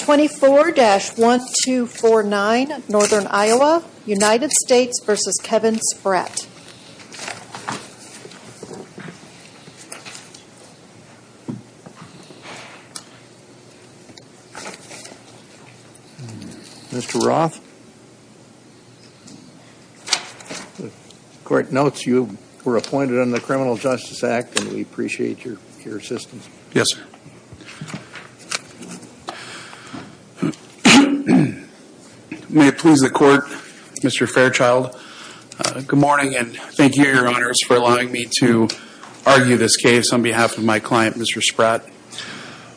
24-1249 Northern Iowa, United States v. Kevon Spratt Mr. Roth, the court notes you were appointed under the Criminal Justice Act and we appreciate your assistance. Yes, sir. May it please the court, Mr. Fairchild, good morning and thank you, your honors, for allowing me to argue this case on behalf of my client, Mr. Spratt.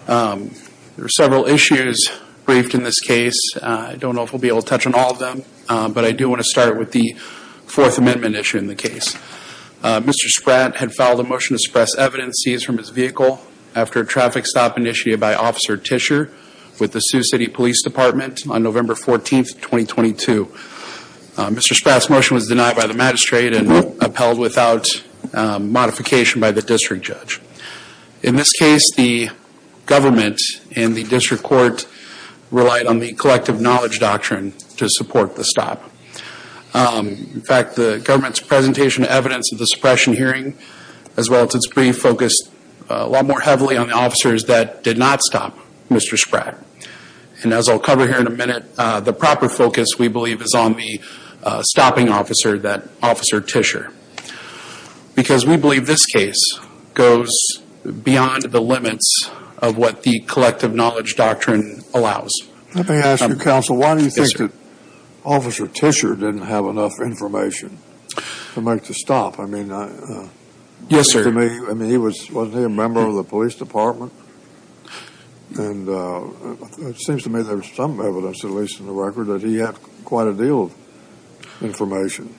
There are several issues briefed in this case. I don't know if we'll be able to touch on all of them, but I do want to start with the Fourth Amendment issue in the case. Mr. Spratt had filed a motion to suppress evidence seized from his vehicle after a traffic stop initiated by Officer Tischer with the Sioux City Police Department on November 14, 2022. Mr. Spratt's motion was denied by the magistrate and upheld without modification by the district judge. In this case, the government and the district court relied on the collective knowledge doctrine to support the stop. In fact, the government's presentation of evidence of the suppression hearing, as well as its brief, focused a lot more heavily on the officers that did not stop Mr. Spratt. And as I'll cover here in a minute, the proper focus, we believe, is on the stopping officer, that Officer Tischer. Because we believe this case goes beyond the limits of what the collective knowledge doctrine allows. Let me ask you, counsel, why do you think that Officer Tischer didn't have enough information to make the stop? I mean, wasn't he a member of the police department? And it seems to me there's some evidence, at least in the record, that he had quite a deal of information.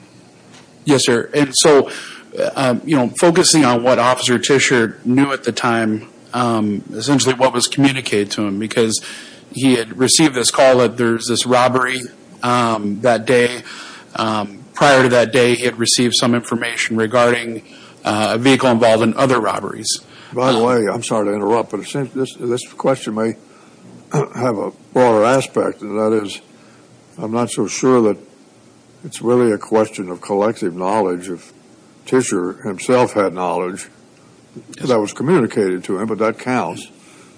Yes, sir. And so, you know, focusing on what Officer Tischer knew at the time, essentially what was communicated to him, because he had received this call that there's this robbery that day. Prior to that day, he had received some information regarding a vehicle involved in other robberies. By the way, I'm sorry to interrupt, but this question may have a broader aspect than that is I'm not so sure that it's really a question of collective knowledge if Tischer himself had knowledge that was communicated to him, but that counts.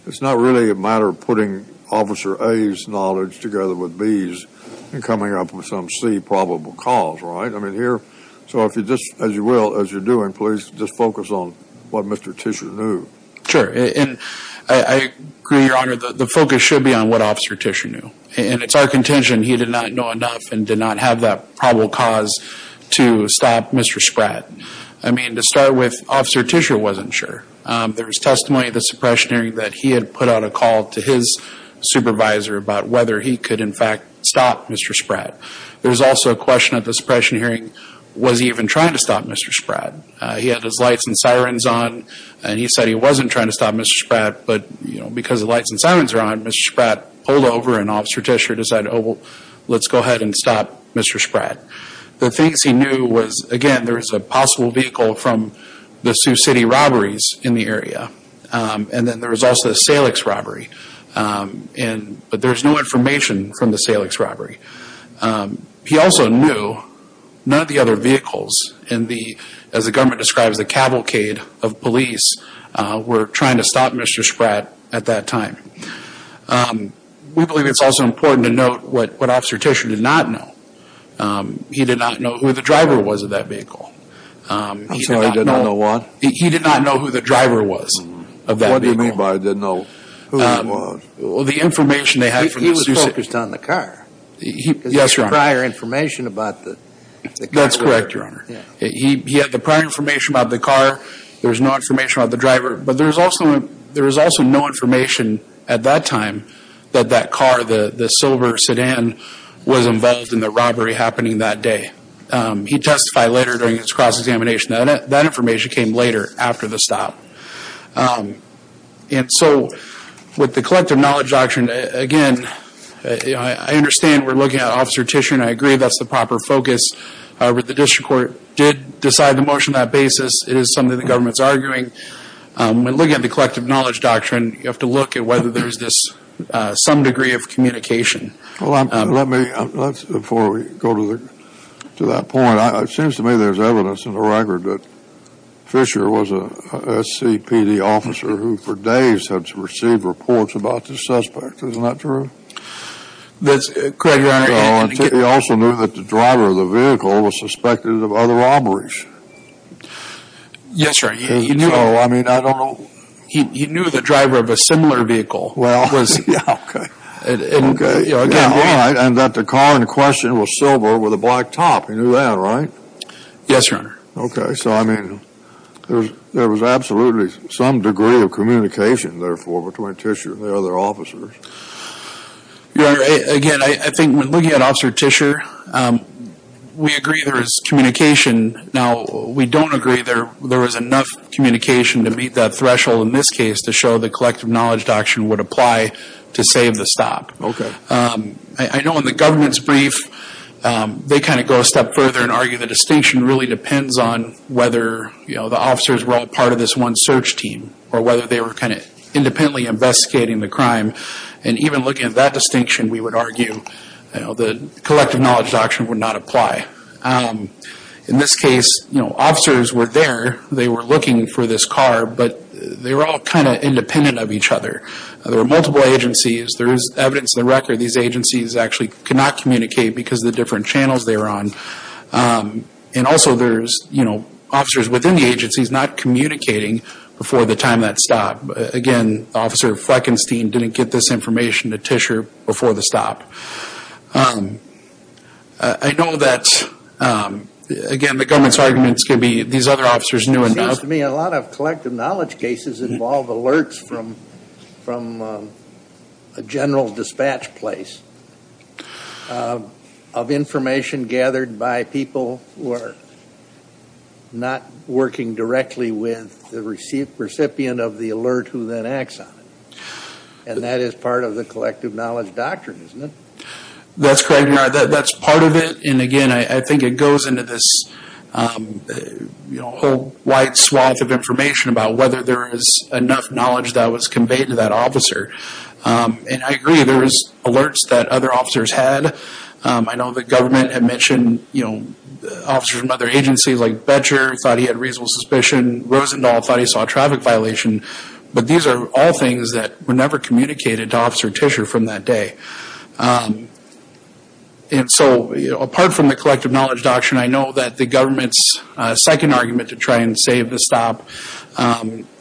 It's not really a matter of putting Officer A's knowledge together with B's and coming up with some C probable cause, right? I mean, here, so if you just, as you will, as you're doing, please just focus on what Mr. Tischer knew. Sure. And I agree, Your Honor, that the focus should be on what Officer Tischer knew. And it's our contention he did not know enough and did not have that probable cause to stop Mr. Spratt. I mean, to start with, Officer Tischer wasn't sure. There was testimony at the suppression hearing that he had put out a call to his supervisor about whether he could in fact stop Mr. Spratt. There was also a question at the suppression hearing, was he even trying to stop Mr. Spratt? He had his lights and sirens on and he said he wasn't trying to stop Mr. Spratt, but, you know, because the lights and sirens were on, Mr. Spratt pulled over and Officer Tischer decided, oh, well, let's go ahead and stop Mr. Spratt. The things he knew was, again, there's a possible vehicle from the Sioux City robberies in the area. And then there was also the Salix robbery. But there's no information from the Salix robbery. He also knew none of the other vehicles in the, as the government describes, the cavalcade of police were trying to stop Mr. Spratt at that time. We believe it's also important to note what Officer Tischer did not know. He did not know who the driver was of that vehicle. I'm sorry, he did not know what? He did not know who the driver was of that vehicle. What do you mean by he didn't know who he was? Well, the information they had from the Sioux City. He was focused on the car. Yes, Your Honor. Because there's prior information about the car. That's correct, Your Honor. Yeah. He had the prior information about the car. There was no information about the driver. But there was also no information at that time that that car, the silver sedan, was involved in the robbery happening that day. He testified later during his cross-examination. That information came later after the stop. And so, with the collective knowledge doctrine, again, I understand we're looking at Officer Tischer and I agree that's the proper focus. However, the district court did decide the motion on that basis. It is something the government's arguing. When looking at the collective knowledge doctrine, you have to look at whether there's this, some degree of communication. Well, let me, before we go to that point, it seems to me there's evidence in the record that Fischer was a SCPD officer who for days had received reports about the suspect. Isn't that true? That's correct, Your Honor. He also knew that the driver of the vehicle was suspected of other robberies. Yes, Your Honor. He knew. So, I mean, I don't know. He knew the driver of a similar vehicle was. Well, yeah, okay. Okay. Yeah, all right. And that the car in question was silver with a black top. He knew that, right? Yes, Your Honor. Okay. So, I mean, there was absolutely some degree of communication, therefore, between Tischer and the other officers. Your Honor, again, I think when looking at Officer Tischer, we agree there is communication. Now, we don't agree there is enough communication to meet that threshold in this case to show the collective knowledge doctrine would apply to save the stop. Okay. I know in the government's brief, they kind of go a step further and argue the distinction really depends on whether, you know, the officers were all part of this one search team or whether they were kind of independently the crime. And even looking at that distinction, we would argue, you know, the collective knowledge doctrine would not apply. In this case, you know, officers were there. They were looking for this car, but they were all kind of independent of each other. There were multiple agencies. There is evidence in the record these agencies actually could not communicate because of the different channels they were on. And also, there's, you know, officers within the agencies not communicating before the time of that stop. Again, Officer Fleckenstein didn't get this information to Tischer before the stop. I know that, again, the government's arguments could be these other officers knew enough. It seems to me a lot of collective knowledge cases involve alerts from a general dispatch place of information gathered by people who are not working directly with the recipient of the alert who then acts on it. And that is part of the collective knowledge doctrine, isn't it? That's correct. That's part of it. And again, I think it goes into this, you know, whole white swath of information about whether there is enough knowledge that was conveyed to that officer. And I agree, there was alerts that other officers had. I know the government had mentioned, you know, officers from other agencies like Boettcher thought he had reasonable suspicion. Rosendahl thought he saw a traffic violation. But these are all things that were never communicated to Officer Tischer from that day. And so, apart from the collective knowledge doctrine, I know that the government's second argument to try and save the stop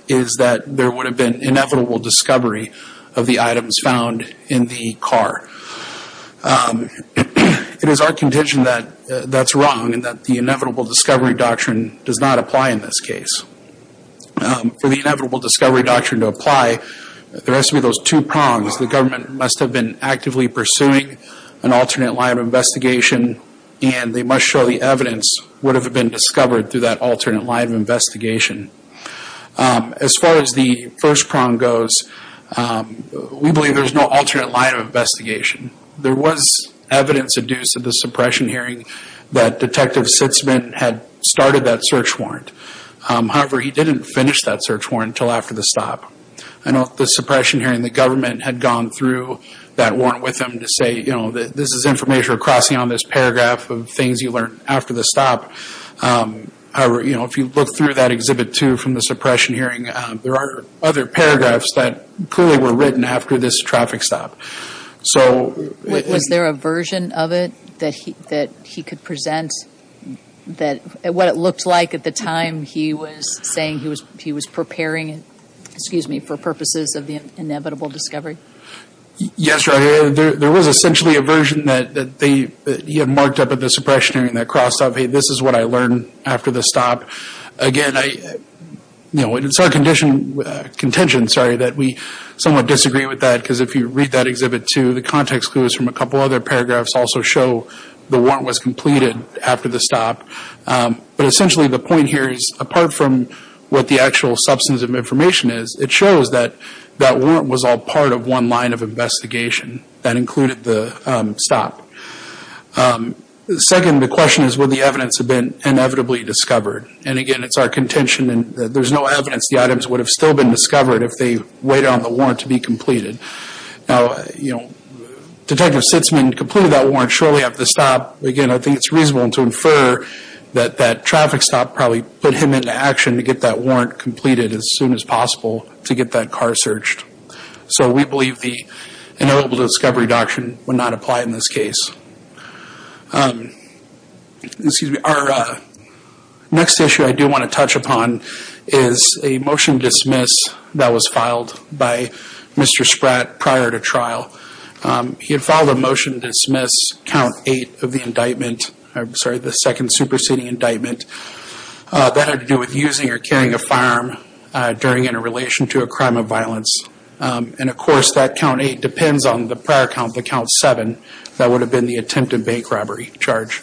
is that there would have been inevitable discovery of the items found in the car. It is our contention that that's wrong and that the inevitable discovery doctrine does not apply in this case. For the inevitable discovery doctrine to apply, there has to be those two prongs. The government must have been actively pursuing an alternate line of investigation and they must show the evidence would have been discovered through that alternate line of investigation. As far as the first prong goes, we believe there's no alternate line of investigation. There was evidence adduced at the suppression hearing that Detective Sitzman had started that search warrant. However, he didn't finish that search warrant until after the stop. I know at the suppression hearing, the government had gone through that warrant with him to say, you know, this is information we're crossing on this paragraph of things you learned after the stop. However, you know, if you look through that Exhibit 2 from the suppression hearing, there are other paragraphs that clearly were written after this traffic stop. So... Was there a version of it that he could present, what it looked like at the time he was saying he was preparing, excuse me, for purposes of the inevitable discovery? Yes, there was essentially a version that he had marked up at the suppression hearing that crossed off, hey, this is what I learned after the stop. Again, it's our contention that we somewhat disagree with that because if you read that Exhibit 2, the context clues from a couple other paragraphs also show the warrant was completed after the stop. But essentially, the point here is apart from what the actual substance of information is, it shows that that warrant was all part of one line of investigation that included the stop. Second, the question is, would the evidence have been inevitably discovered? And again, it's our contention that there's no evidence the items would have still been discovered if they waited on the warrant to be completed. Now, you know, Detective Sitzman completed that warrant shortly after the stop. Again, I think it's reasonable to infer that that traffic stop probably put him into action to get that warrant completed as soon as possible to get that car searched. So we believe the Ineligible Discovery Doctrine would not apply in this case. Our next issue I do want to touch upon is a motion to dismiss that was filed by Mr. Spratt prior to trial. He had filed a motion to dismiss Count 8 of the indictment, I'm sorry, the second superseding indictment that had to do with using or carrying a firearm during interrelation to a crime of violence. And of course, that Count 8 depends on the prior count, the Count 7 that would have been the attempted bank robbery charge.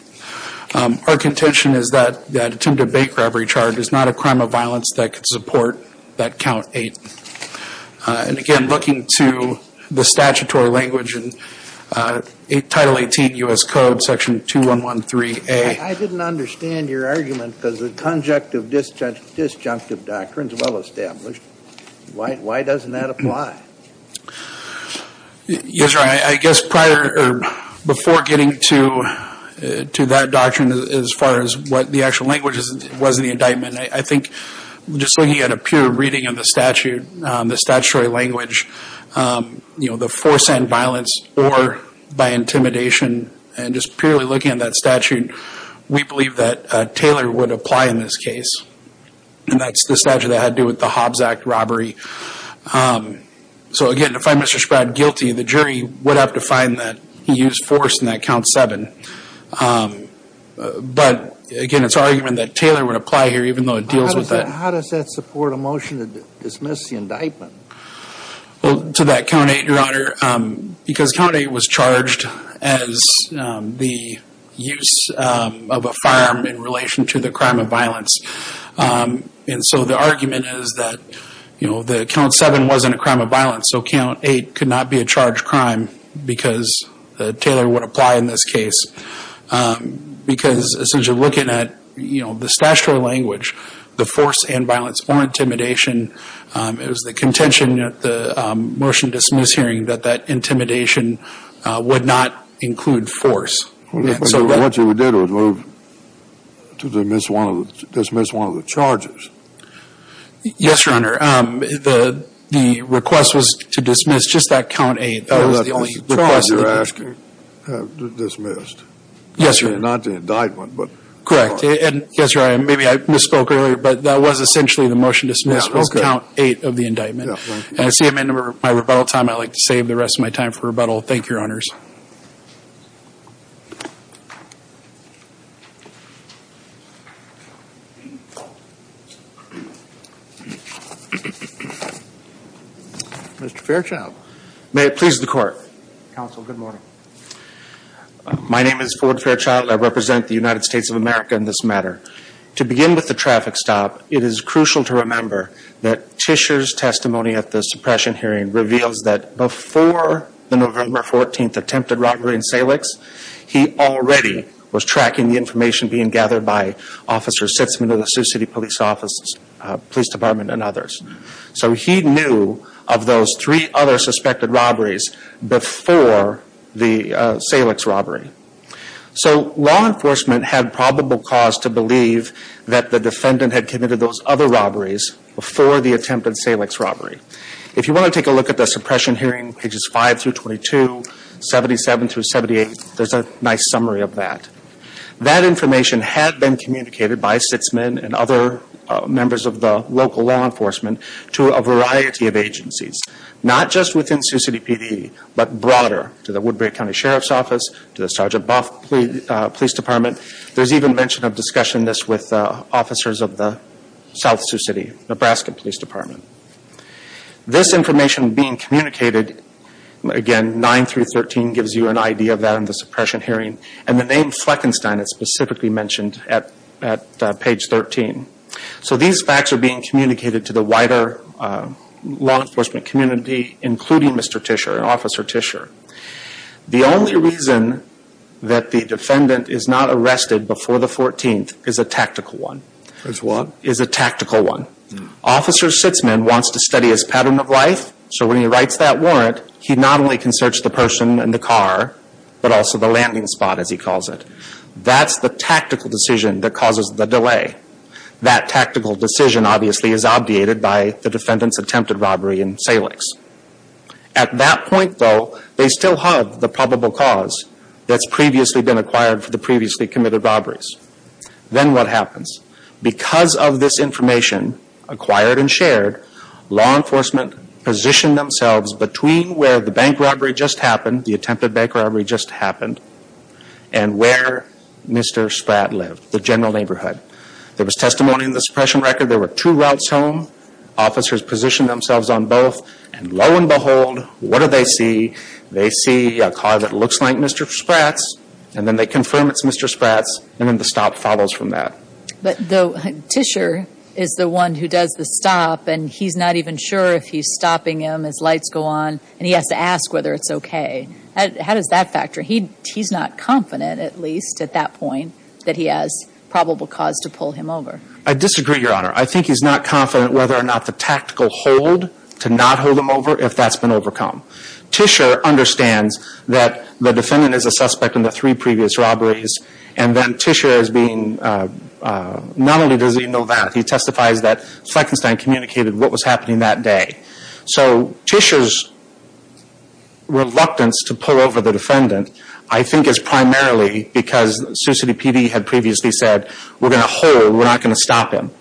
Our contention is that that attempted bank robbery charge is not a crime of violence that could support that Count 8. And again, looking to the statutory language in Title 18 U.S. Code, Section 2113a. I didn't understand your argument because the conjunctive disjunctive doctrine is well established. Why doesn't that apply? Yes, Your Honor. I guess prior or before getting to that doctrine as far as what the actual language was in the indictment, I think just looking at a pure reading of the statute, the statutory language, you know, the force and violence or by intimidation and just purely looking at that statute, we believe that Taylor would apply in this case. And that's the statute that had to do with the Hobbs Act robbery. So again, to find Mr. Spratt guilty, the jury would have to find that he used force in that Count 7. But again, it's argument that Taylor would apply here even though it deals with that. How does that support a motion to dismiss the indictment? Well, to that Count 8, Your Honor, because Count 8 was charged as the use of a firearm in relation to the crime of violence. And so the argument is that, you know, that Count 7 wasn't a crime of violence. So Count 8 could not be a charged crime because Taylor would apply in this case. Because as soon as you're looking at, you know, the statutory language, the force and violence or intimidation, it was the contention at the motion dismiss hearing that that intimidation would not include force. What you did was move to dismiss one of the charges. Yes, Your Honor. The request was to dismiss just that Count 8. That was the only charge that you were asking to dismiss. Yes, Your Honor. Not the indictment, but the firearm. Correct. Yes, Your Honor. Maybe I misspoke earlier, but that was essentially the motion to dismiss was Count 8 of the indictment. I see a minute of my rebuttal time. I'd like to save the rest of my time for rebuttal. Thank you, Your Honors. Mr. Fairchild. May it please the Court. Counsel, good morning. My name is Ford Fairchild. I represent the United States of America in this matter. To begin with the traffic stop, it is crucial to remember that Tischer's testimony at the suppression hearing reveals that before the November 14th attempted robbery in Salix, he already was tracking the information being gathered by officers, citizens of the Sioux City Police Department and others. So he knew of those three other suspected robberies before the Salix robbery. So law enforcement had probable cause to believe that the defendant had committed those other robberies before the attempted Salix robbery. If you want to take a look at the suppression hearing, pages 5 through 22, 77 through 78, there's a nice summary of that. That information had been communicated by Sitzman and other members of the local law enforcement to a variety of agencies. Not just within Sioux City PD, but broader to the Woodbury County Sheriff's Office, to the Sergeant Buff Police Department. There's even mention of discussion of this with officers of the South Sioux City, Nebraska Police Department. This information being communicated, again, 9 through 13 gives you an idea of that in the suppression hearing. And the name Fleckenstein is specifically mentioned at page 13. So these facts are being communicated to the wider law enforcement community, including Mr. Tischer, Officer Tischer. The only reason that the defendant is not arrested before the 14th is a tactical one. Is what? Is a tactical one. Officer Sitzman wants to study his pattern of life, so when he writes that warrant, he not only can search the person and the car, but also the landing spot, as he calls it. That's the tactical decision that causes the delay. That tactical decision, obviously, is obviated by the defendant's attempted robbery in Salix. At that point, though, they still have the probable cause that's previously been acquired for the previously committed robberies. Then what happens? Because of this information, acquired and shared, law enforcement positioned themselves between where the bank robbery just happened, the attempted bank robbery just happened, and where Mr. Spratt lived, the general neighborhood. There was testimony in the suppression record. There were two routes home. Officers positioned themselves on both, and lo and behold, what do they see? They see a car that looks like Mr. Spratt's, and then they confirm it's Mr. Spratt's, and then the stop follows from that. But, though, Tischer is the one who does the stop, and he's not even sure if he's stopping him as lights go on, and he has to ask whether it's okay. How does that factor? He's not confident, at least at that point, that he has probable cause to pull him over. I disagree, Your Honor. I think he's not confident whether or not the tactical hold to not hold him over, if that's been overcome. Tischer understands that the defendant is a suspect in the three previous robberies, and then Tischer is being, not only does he know that, he also testifies that Fleckenstein communicated what was happening that day. So, Tischer's reluctance to pull over the defendant, I think is primarily because Suicidy PD had previously said, we're going to hold, we're not going to stop him.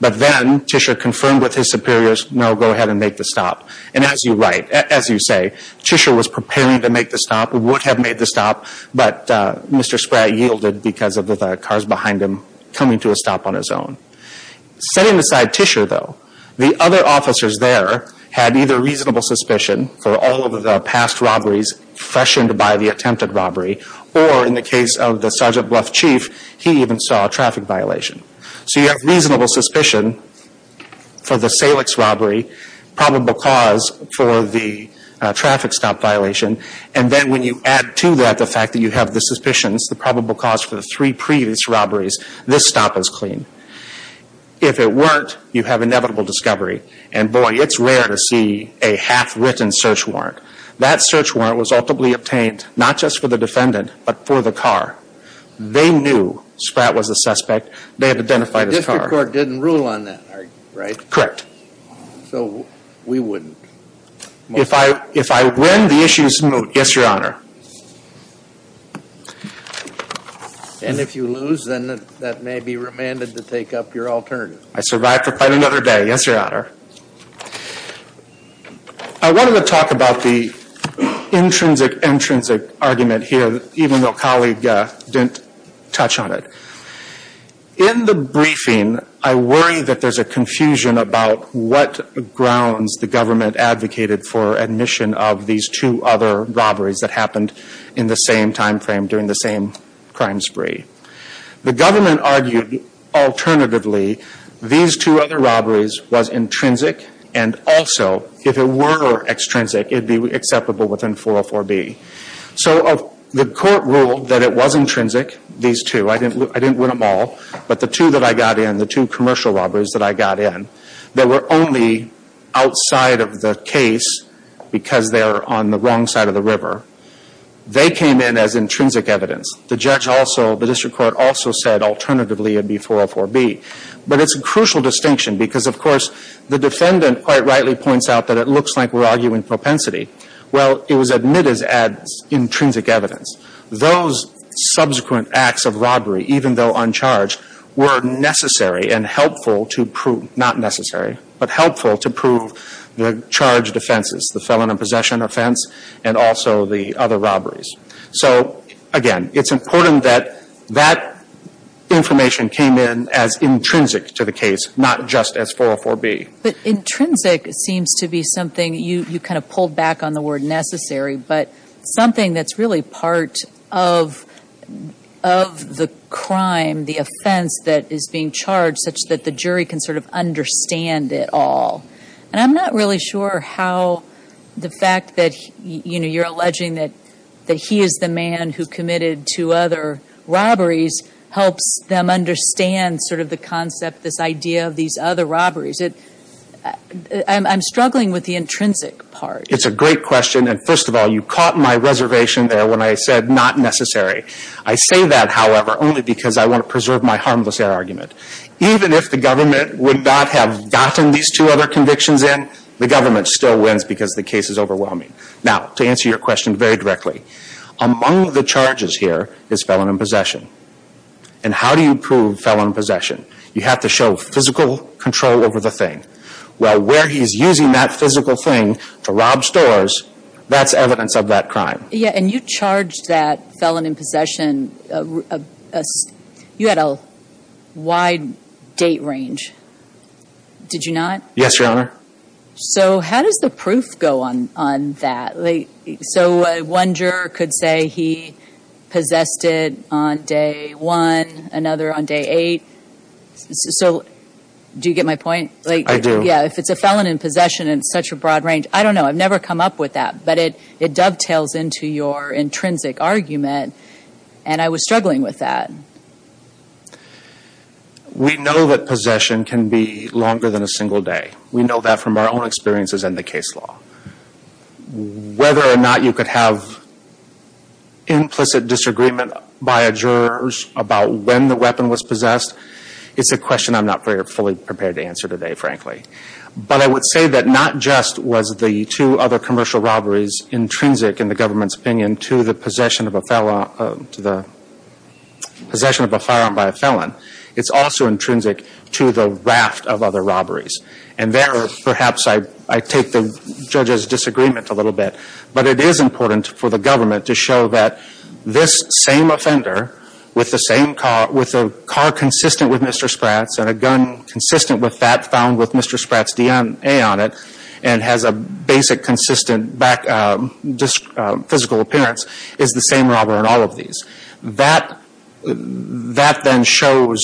But then, Tischer confirmed with his superiors, no, go ahead and make the stop. And as you say, Tischer was preparing to make the stop, would have made the stop, but Mr. Spratt yielded because of the cars behind him coming to a stop on his own. Setting aside Tischer, though, the other officers there had either reasonable suspicion for all of the past robberies fashioned by the attempted robbery, or in the case of the Sergeant Bluff Chief, he even saw a traffic violation. So, you have reasonable suspicion for the Salix robbery, probable cause for the traffic stop violation, and then when you add to that the fact that you have the suspicions, the probable cause for the three previous robberies, this stop is clean. If it weren't, you have inevitable discovery. And boy, it's rare to see a half-written search warrant. That search warrant was ultimately obtained, not just for the defendant, but for the car. They knew Spratt was the suspect. They had identified his car. The district court didn't rule on that, right? Correct. So, we wouldn't. If I win, the issue is removed. Yes, Your Honor. And if you lose, then that may be remanded to take up your alternative. I survive for quite another day. Yes, Your Honor. I wanted to talk about the intrinsic-intrinsic argument here, even though colleague didn't touch on it. In the briefing, I worry that there's a confusion about what grounds the government advocated for admission of these two other robberies that happened in the same time frame during the same crime spree. The government argued, alternatively, these two other robberies was intrinsic and also, if it were extrinsic, it would be acceptable within 404B. So, the court ruled that it was intrinsic, these two. I didn't win them all, but the two that I got in, the two commercial robberies that I got in, they were only outside of the case because they're on the wrong side of the river. They came in as intrinsic evidence. The judge also, the district court also said, alternatively, it would be 404B. But it's a crucial distinction because, of course, the defendant quite rightly points out that it looks like we're arguing propensity. Well, it was admitted as intrinsic evidence. Those subsequent acts of robbery, even though uncharged, were necessary and helpful to prove, not necessary, but helpful to prove the charged offenses, the felon in possession offense, and also the other robberies. So, again, it's important that that information came in as intrinsic to the case, not just as 404B. But intrinsic seems to be something, you kind of pulled back on the word necessary, but something that's really part of the crime, the offense that is being charged such that the jury can sort of understand it all. And I'm not really sure how the fact that you're alleging that he is the man who committed two other robberies helps them understand sort of the concept, this idea of these other robberies. I'm struggling with the intrinsic part. It's a great question. And, first of all, you caught my reservation there when I said not necessary. I say that, however, only because I want to preserve my harmless air argument. Even if the government would not have gotten these two other convictions in, the government still wins because the case is overwhelming. Now, to answer your question very directly, among the charges here is felon in possession. And how do you prove felon in possession? You have to show physical control over the thing. Well, where he's using that physical thing to rob stores, that's evidence of that crime. Yeah, and you charged that felon in possession. You had a wide date range. Did you not? Yes, Your Honor. So how does the proof go on that? So one juror could say he possessed it on day one, another on day eight. So do you get my point? I do. Yeah, if it's a felon in possession in such a broad range, I don't know. I've never come up with that. But it dovetails into your intrinsic argument. And I was struggling with that. We know that possession can be longer than a single day. We know that from our own experiences in the case law. Whether or not you could have implicit disagreement by a juror about when the weapon was possessed, it's a question I'm not fully prepared to answer today, frankly. But I would say that not just was the two other commercial robberies intrinsic in the government's opinion to the possession of a firearm by a felon, it's also intrinsic to the raft of other robberies. And there, perhaps, I take the judge's disagreement a little bit. But it is important for the government to show that this same offender with a car consistent with Mr. Spratt's and a gun consistent with that found with Mr. Spratt's DNA on it, and has a basic consistent physical appearance, is the same robber in all of these. That then shows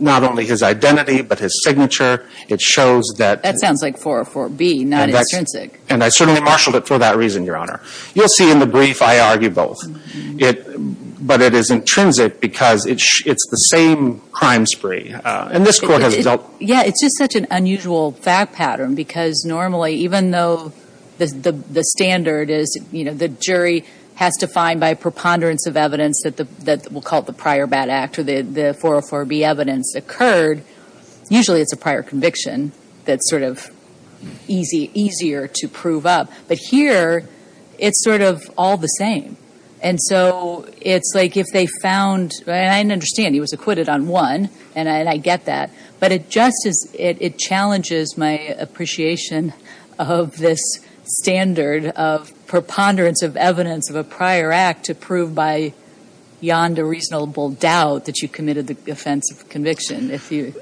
not only his identity, but his signature. It shows that- That sounds like 404B, not intrinsic. And I certainly marshaled it for that reason, Your Honor. You'll see in the brief, I argue both. But it is intrinsic because it's the same crime spree. And this court has dealt- Yeah, it's just such an unusual fact pattern. Because normally, even though the standard is the jury has to find by preponderance of evidence that we'll call it the prior bad act or the 404B evidence occurred, usually it's a prior conviction that's sort of easier to prove up. But here, it's sort of all the same. And so it's like if they found- And I understand he was acquitted on one. And I get that. But it challenges my appreciation of this standard of preponderance of evidence of a prior act to prove by beyond a reasonable doubt that you committed the offense of conviction, if you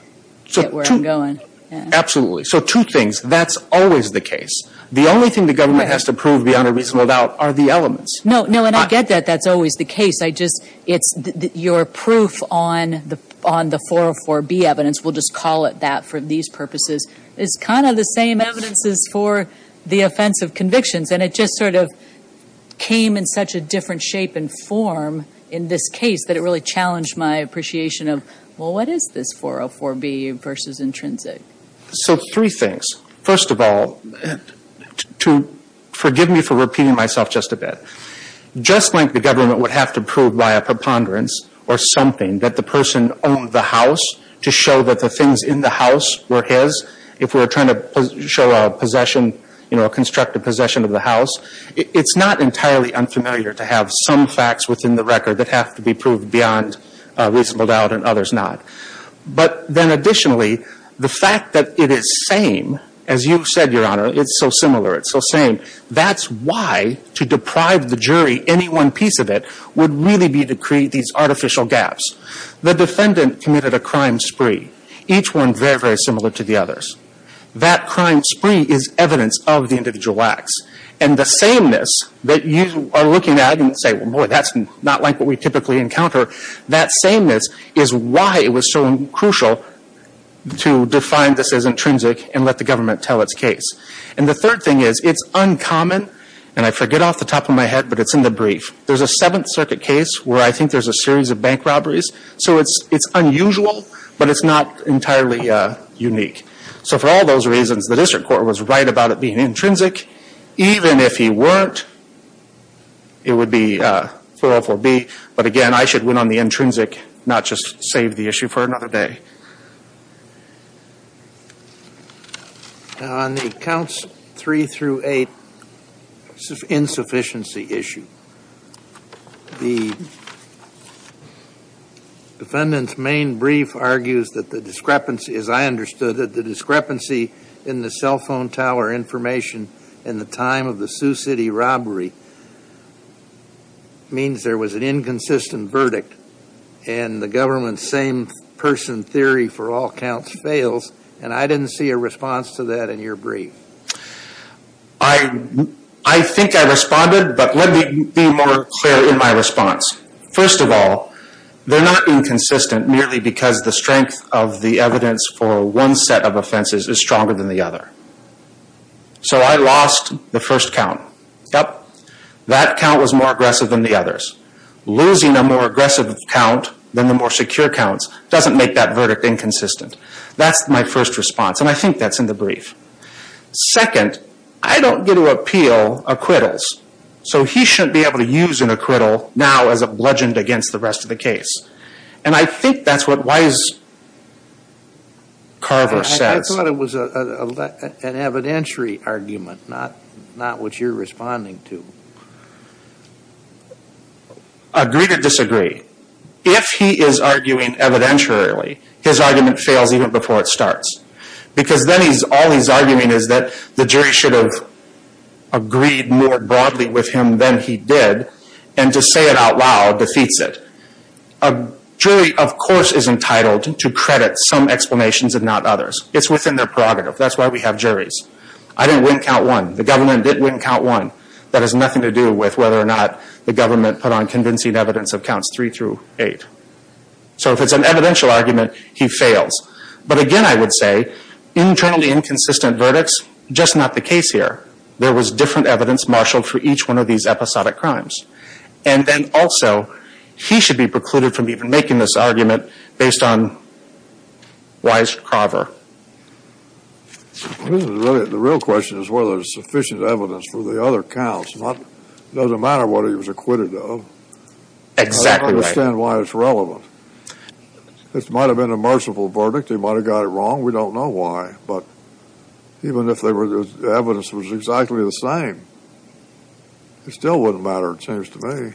get where I'm going. Absolutely. So two things. That's always the case. The only thing the government has to prove beyond a reasonable doubt are the elements. No, and I get that. That's always the case. It's your proof on the 404B evidence. We'll just call it that for these purposes. It's kind of the same evidence as for the offense of convictions. And it just sort of came in such a different shape and form in this case that it really challenged my appreciation of, well, what is this 404B versus intrinsic? So three things. First of all, forgive me for repeating myself just a bit. Just like the government would have to prove by a preponderance or something that the person owned the house to show that the things in the house were his, if we're trying to show a possession, you know, a constructive possession of the house, it's not entirely unfamiliar to have some facts within the record that have to be proved beyond a reasonable doubt and others not. But then additionally, the fact that it is same, as you said, Your Honor, it's so similar, it's so same. That's why to deprive the jury any one piece of it would really be to create these artificial gaps. The defendant committed a crime spree, each one very, very similar to the others. That crime spree is evidence of the individual acts. And the sameness that you are looking at and say, well, boy, that's not like what we typically encounter, that sameness is why it was so crucial to define this as intrinsic and let the government tell its case. And the third thing is, it's uncommon, and I forget off the top of my head, but it's in the brief. There's a Seventh Circuit case where I think there's a series of bank robberies. So it's unusual, but it's not entirely unique. So for all those reasons, the district court was right about it being intrinsic. Even if he weren't, it would be 404B. But again, I should win on the intrinsic, not just save the issue for another day. On the counts three through eight insufficiency issue, the defendant's main brief argues that the discrepancy, as I understood it, the discrepancy in the cell phone tower information in the time of the Sioux City robbery means there was an inconsistent verdict. And the government's same-person theory is that there was an inconsistent theory for all counts fails, and I didn't see a response to that in your brief. I think I responded, but let me be more clear in my response. First of all, they're not inconsistent merely because the strength of the evidence for one set of offenses is stronger than the other. So I lost the first count. That count was more aggressive than the others. Losing a more aggressive count than the more secure counts doesn't make that verdict inconsistent. That's my first response, and I think that's in the brief. Second, I don't get to appeal acquittals. So he shouldn't be able to use an acquittal now as a bludgeon against the rest of the case. And I think that's what Wise Carver says. I thought it was an evidentiary argument, not what you're responding to. Agree to disagree. If he is arguing evidentiary, his argument fails even before it starts. Because then all he's arguing is that the jury should have agreed more broadly with him than he did, and to say it out loud defeats it. A jury, of course, is entitled to credit some explanations and not others. It's within their prerogative. That's why we have juries. I didn't win count one. The government did win count one. That has nothing to do with whether or not the government put on three through eight. So if it's an evidential argument, he fails. But again, I would say, internally inconsistent verdicts, just not the case here. There was different evidence marshaled for each one of these episodic crimes. And then also, he should be precluded from even making this argument based on Wise Carver. The real question is whether there's sufficient evidence for the other counts. It doesn't matter what he was acquitted of. Exactly right. I don't understand why it's relevant. This might have been a merciful verdict. He might have got it wrong. We don't know why. But even if the evidence was exactly the same, it still wouldn't matter, it seems to me.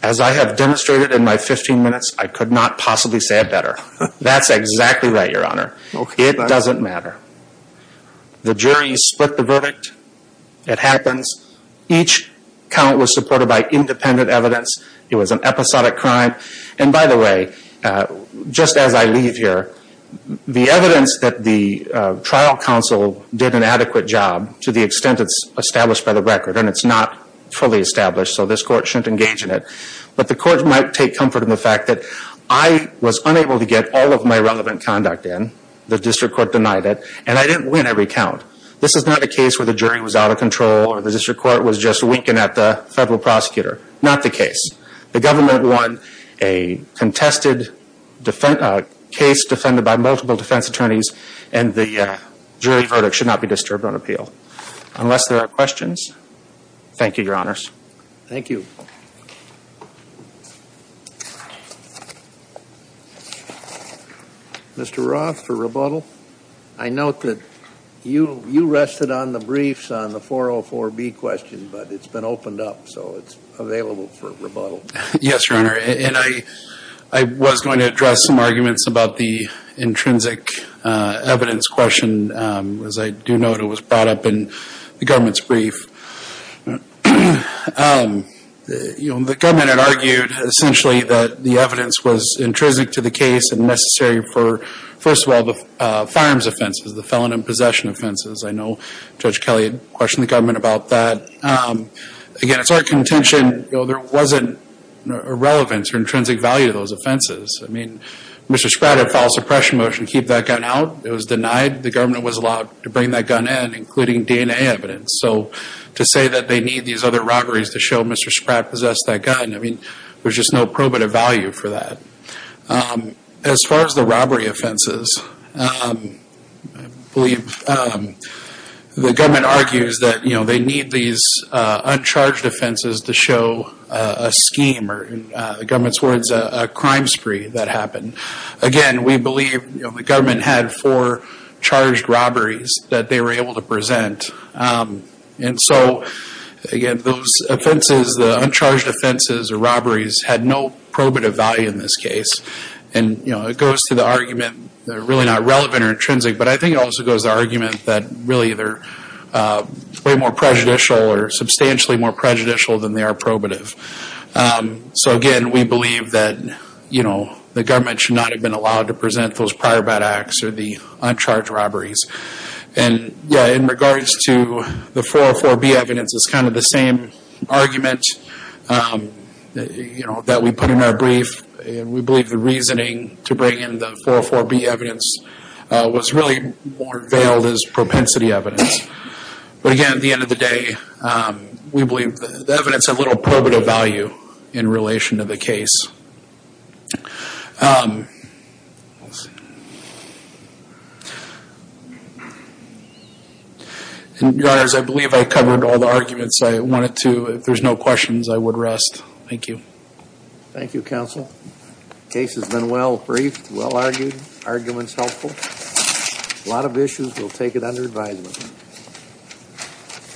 As I have demonstrated in my 15 minutes, I could not possibly say it better. That's exactly right, Your Honor. It doesn't matter. The jury split the verdict. It happens. Each count was supported by independent evidence. It was an episodic crime. And by the way, just as I leave here, the evidence that the trial counsel did an adequate job to the extent it's established by the record, and it's not fully established, so this court shouldn't engage in it. But the court might take comfort in the fact that I was unable to get all of my relevant conduct in. The district court denied it. And I didn't win every count. This is not a case where the jury was out of control or the district court was just winking at the federal prosecutor. Not the case. The government won a contested case defended by multiple defense attorneys, and the jury verdict should not be disturbed on appeal. Unless there are questions, thank you, Your Honors. Thank you. Mr. Roth for rebuttal. I note that you rested on the briefs on the 404B question, but it's been opened up, so it's available for rebuttal. Yes, Your Honor. And I was going to address some arguments about the intrinsic evidence question. As I do note, it was brought up in the government's brief. The government had argued, essentially, that the evidence was intrinsic to the case and necessary for, first of all, the firearms offenses, the felon in possession offenses. I know Judge Kelly had questioned the government about that. Again, it's our contention there wasn't a relevance or intrinsic value to those offenses. I mean, Mr. Spratt had filed a suppression motion to keep that gun out. It was denied. The government was allowed to bring that gun in, including DNA evidence. So to say that they need these other robberies to show Mr. Spratt possessed that gun, I mean, there's just no probative value for that. As far as the robbery offenses, I believe the government argues that, you know, they need these uncharged offenses to show a scheme, or in the government's words, a crime spree that happened. Again, we believe the government had four charged robberies that they were able to present. And so, again, those offenses, the uncharged offenses or robberies, had no probative value in this case. And, you know, it goes to the argument they're really not relevant or intrinsic, but I think it also goes to the argument that, really, they're way more prejudicial or substantially more prejudicial than they are probative. So, again, we believe that, you know, the government should not have been allowed to present those prior bad acts or the uncharged robberies. And, yeah, in regards to the 404B evidence, it's kind of the same argument. You know, that we put in our brief. We believe the reasoning to bring in the 404B evidence was really more veiled as propensity evidence. But, again, at the end of the day, we believe the evidence had little probative value in relation to the case. And, your honors, I believe I covered all the arguments. I wanted to, if there's no questions, I would rest. Thank you. Thank you, counsel. Case has been well briefed, well argued, arguments helpful. A lot of issues, we'll take it under advisement.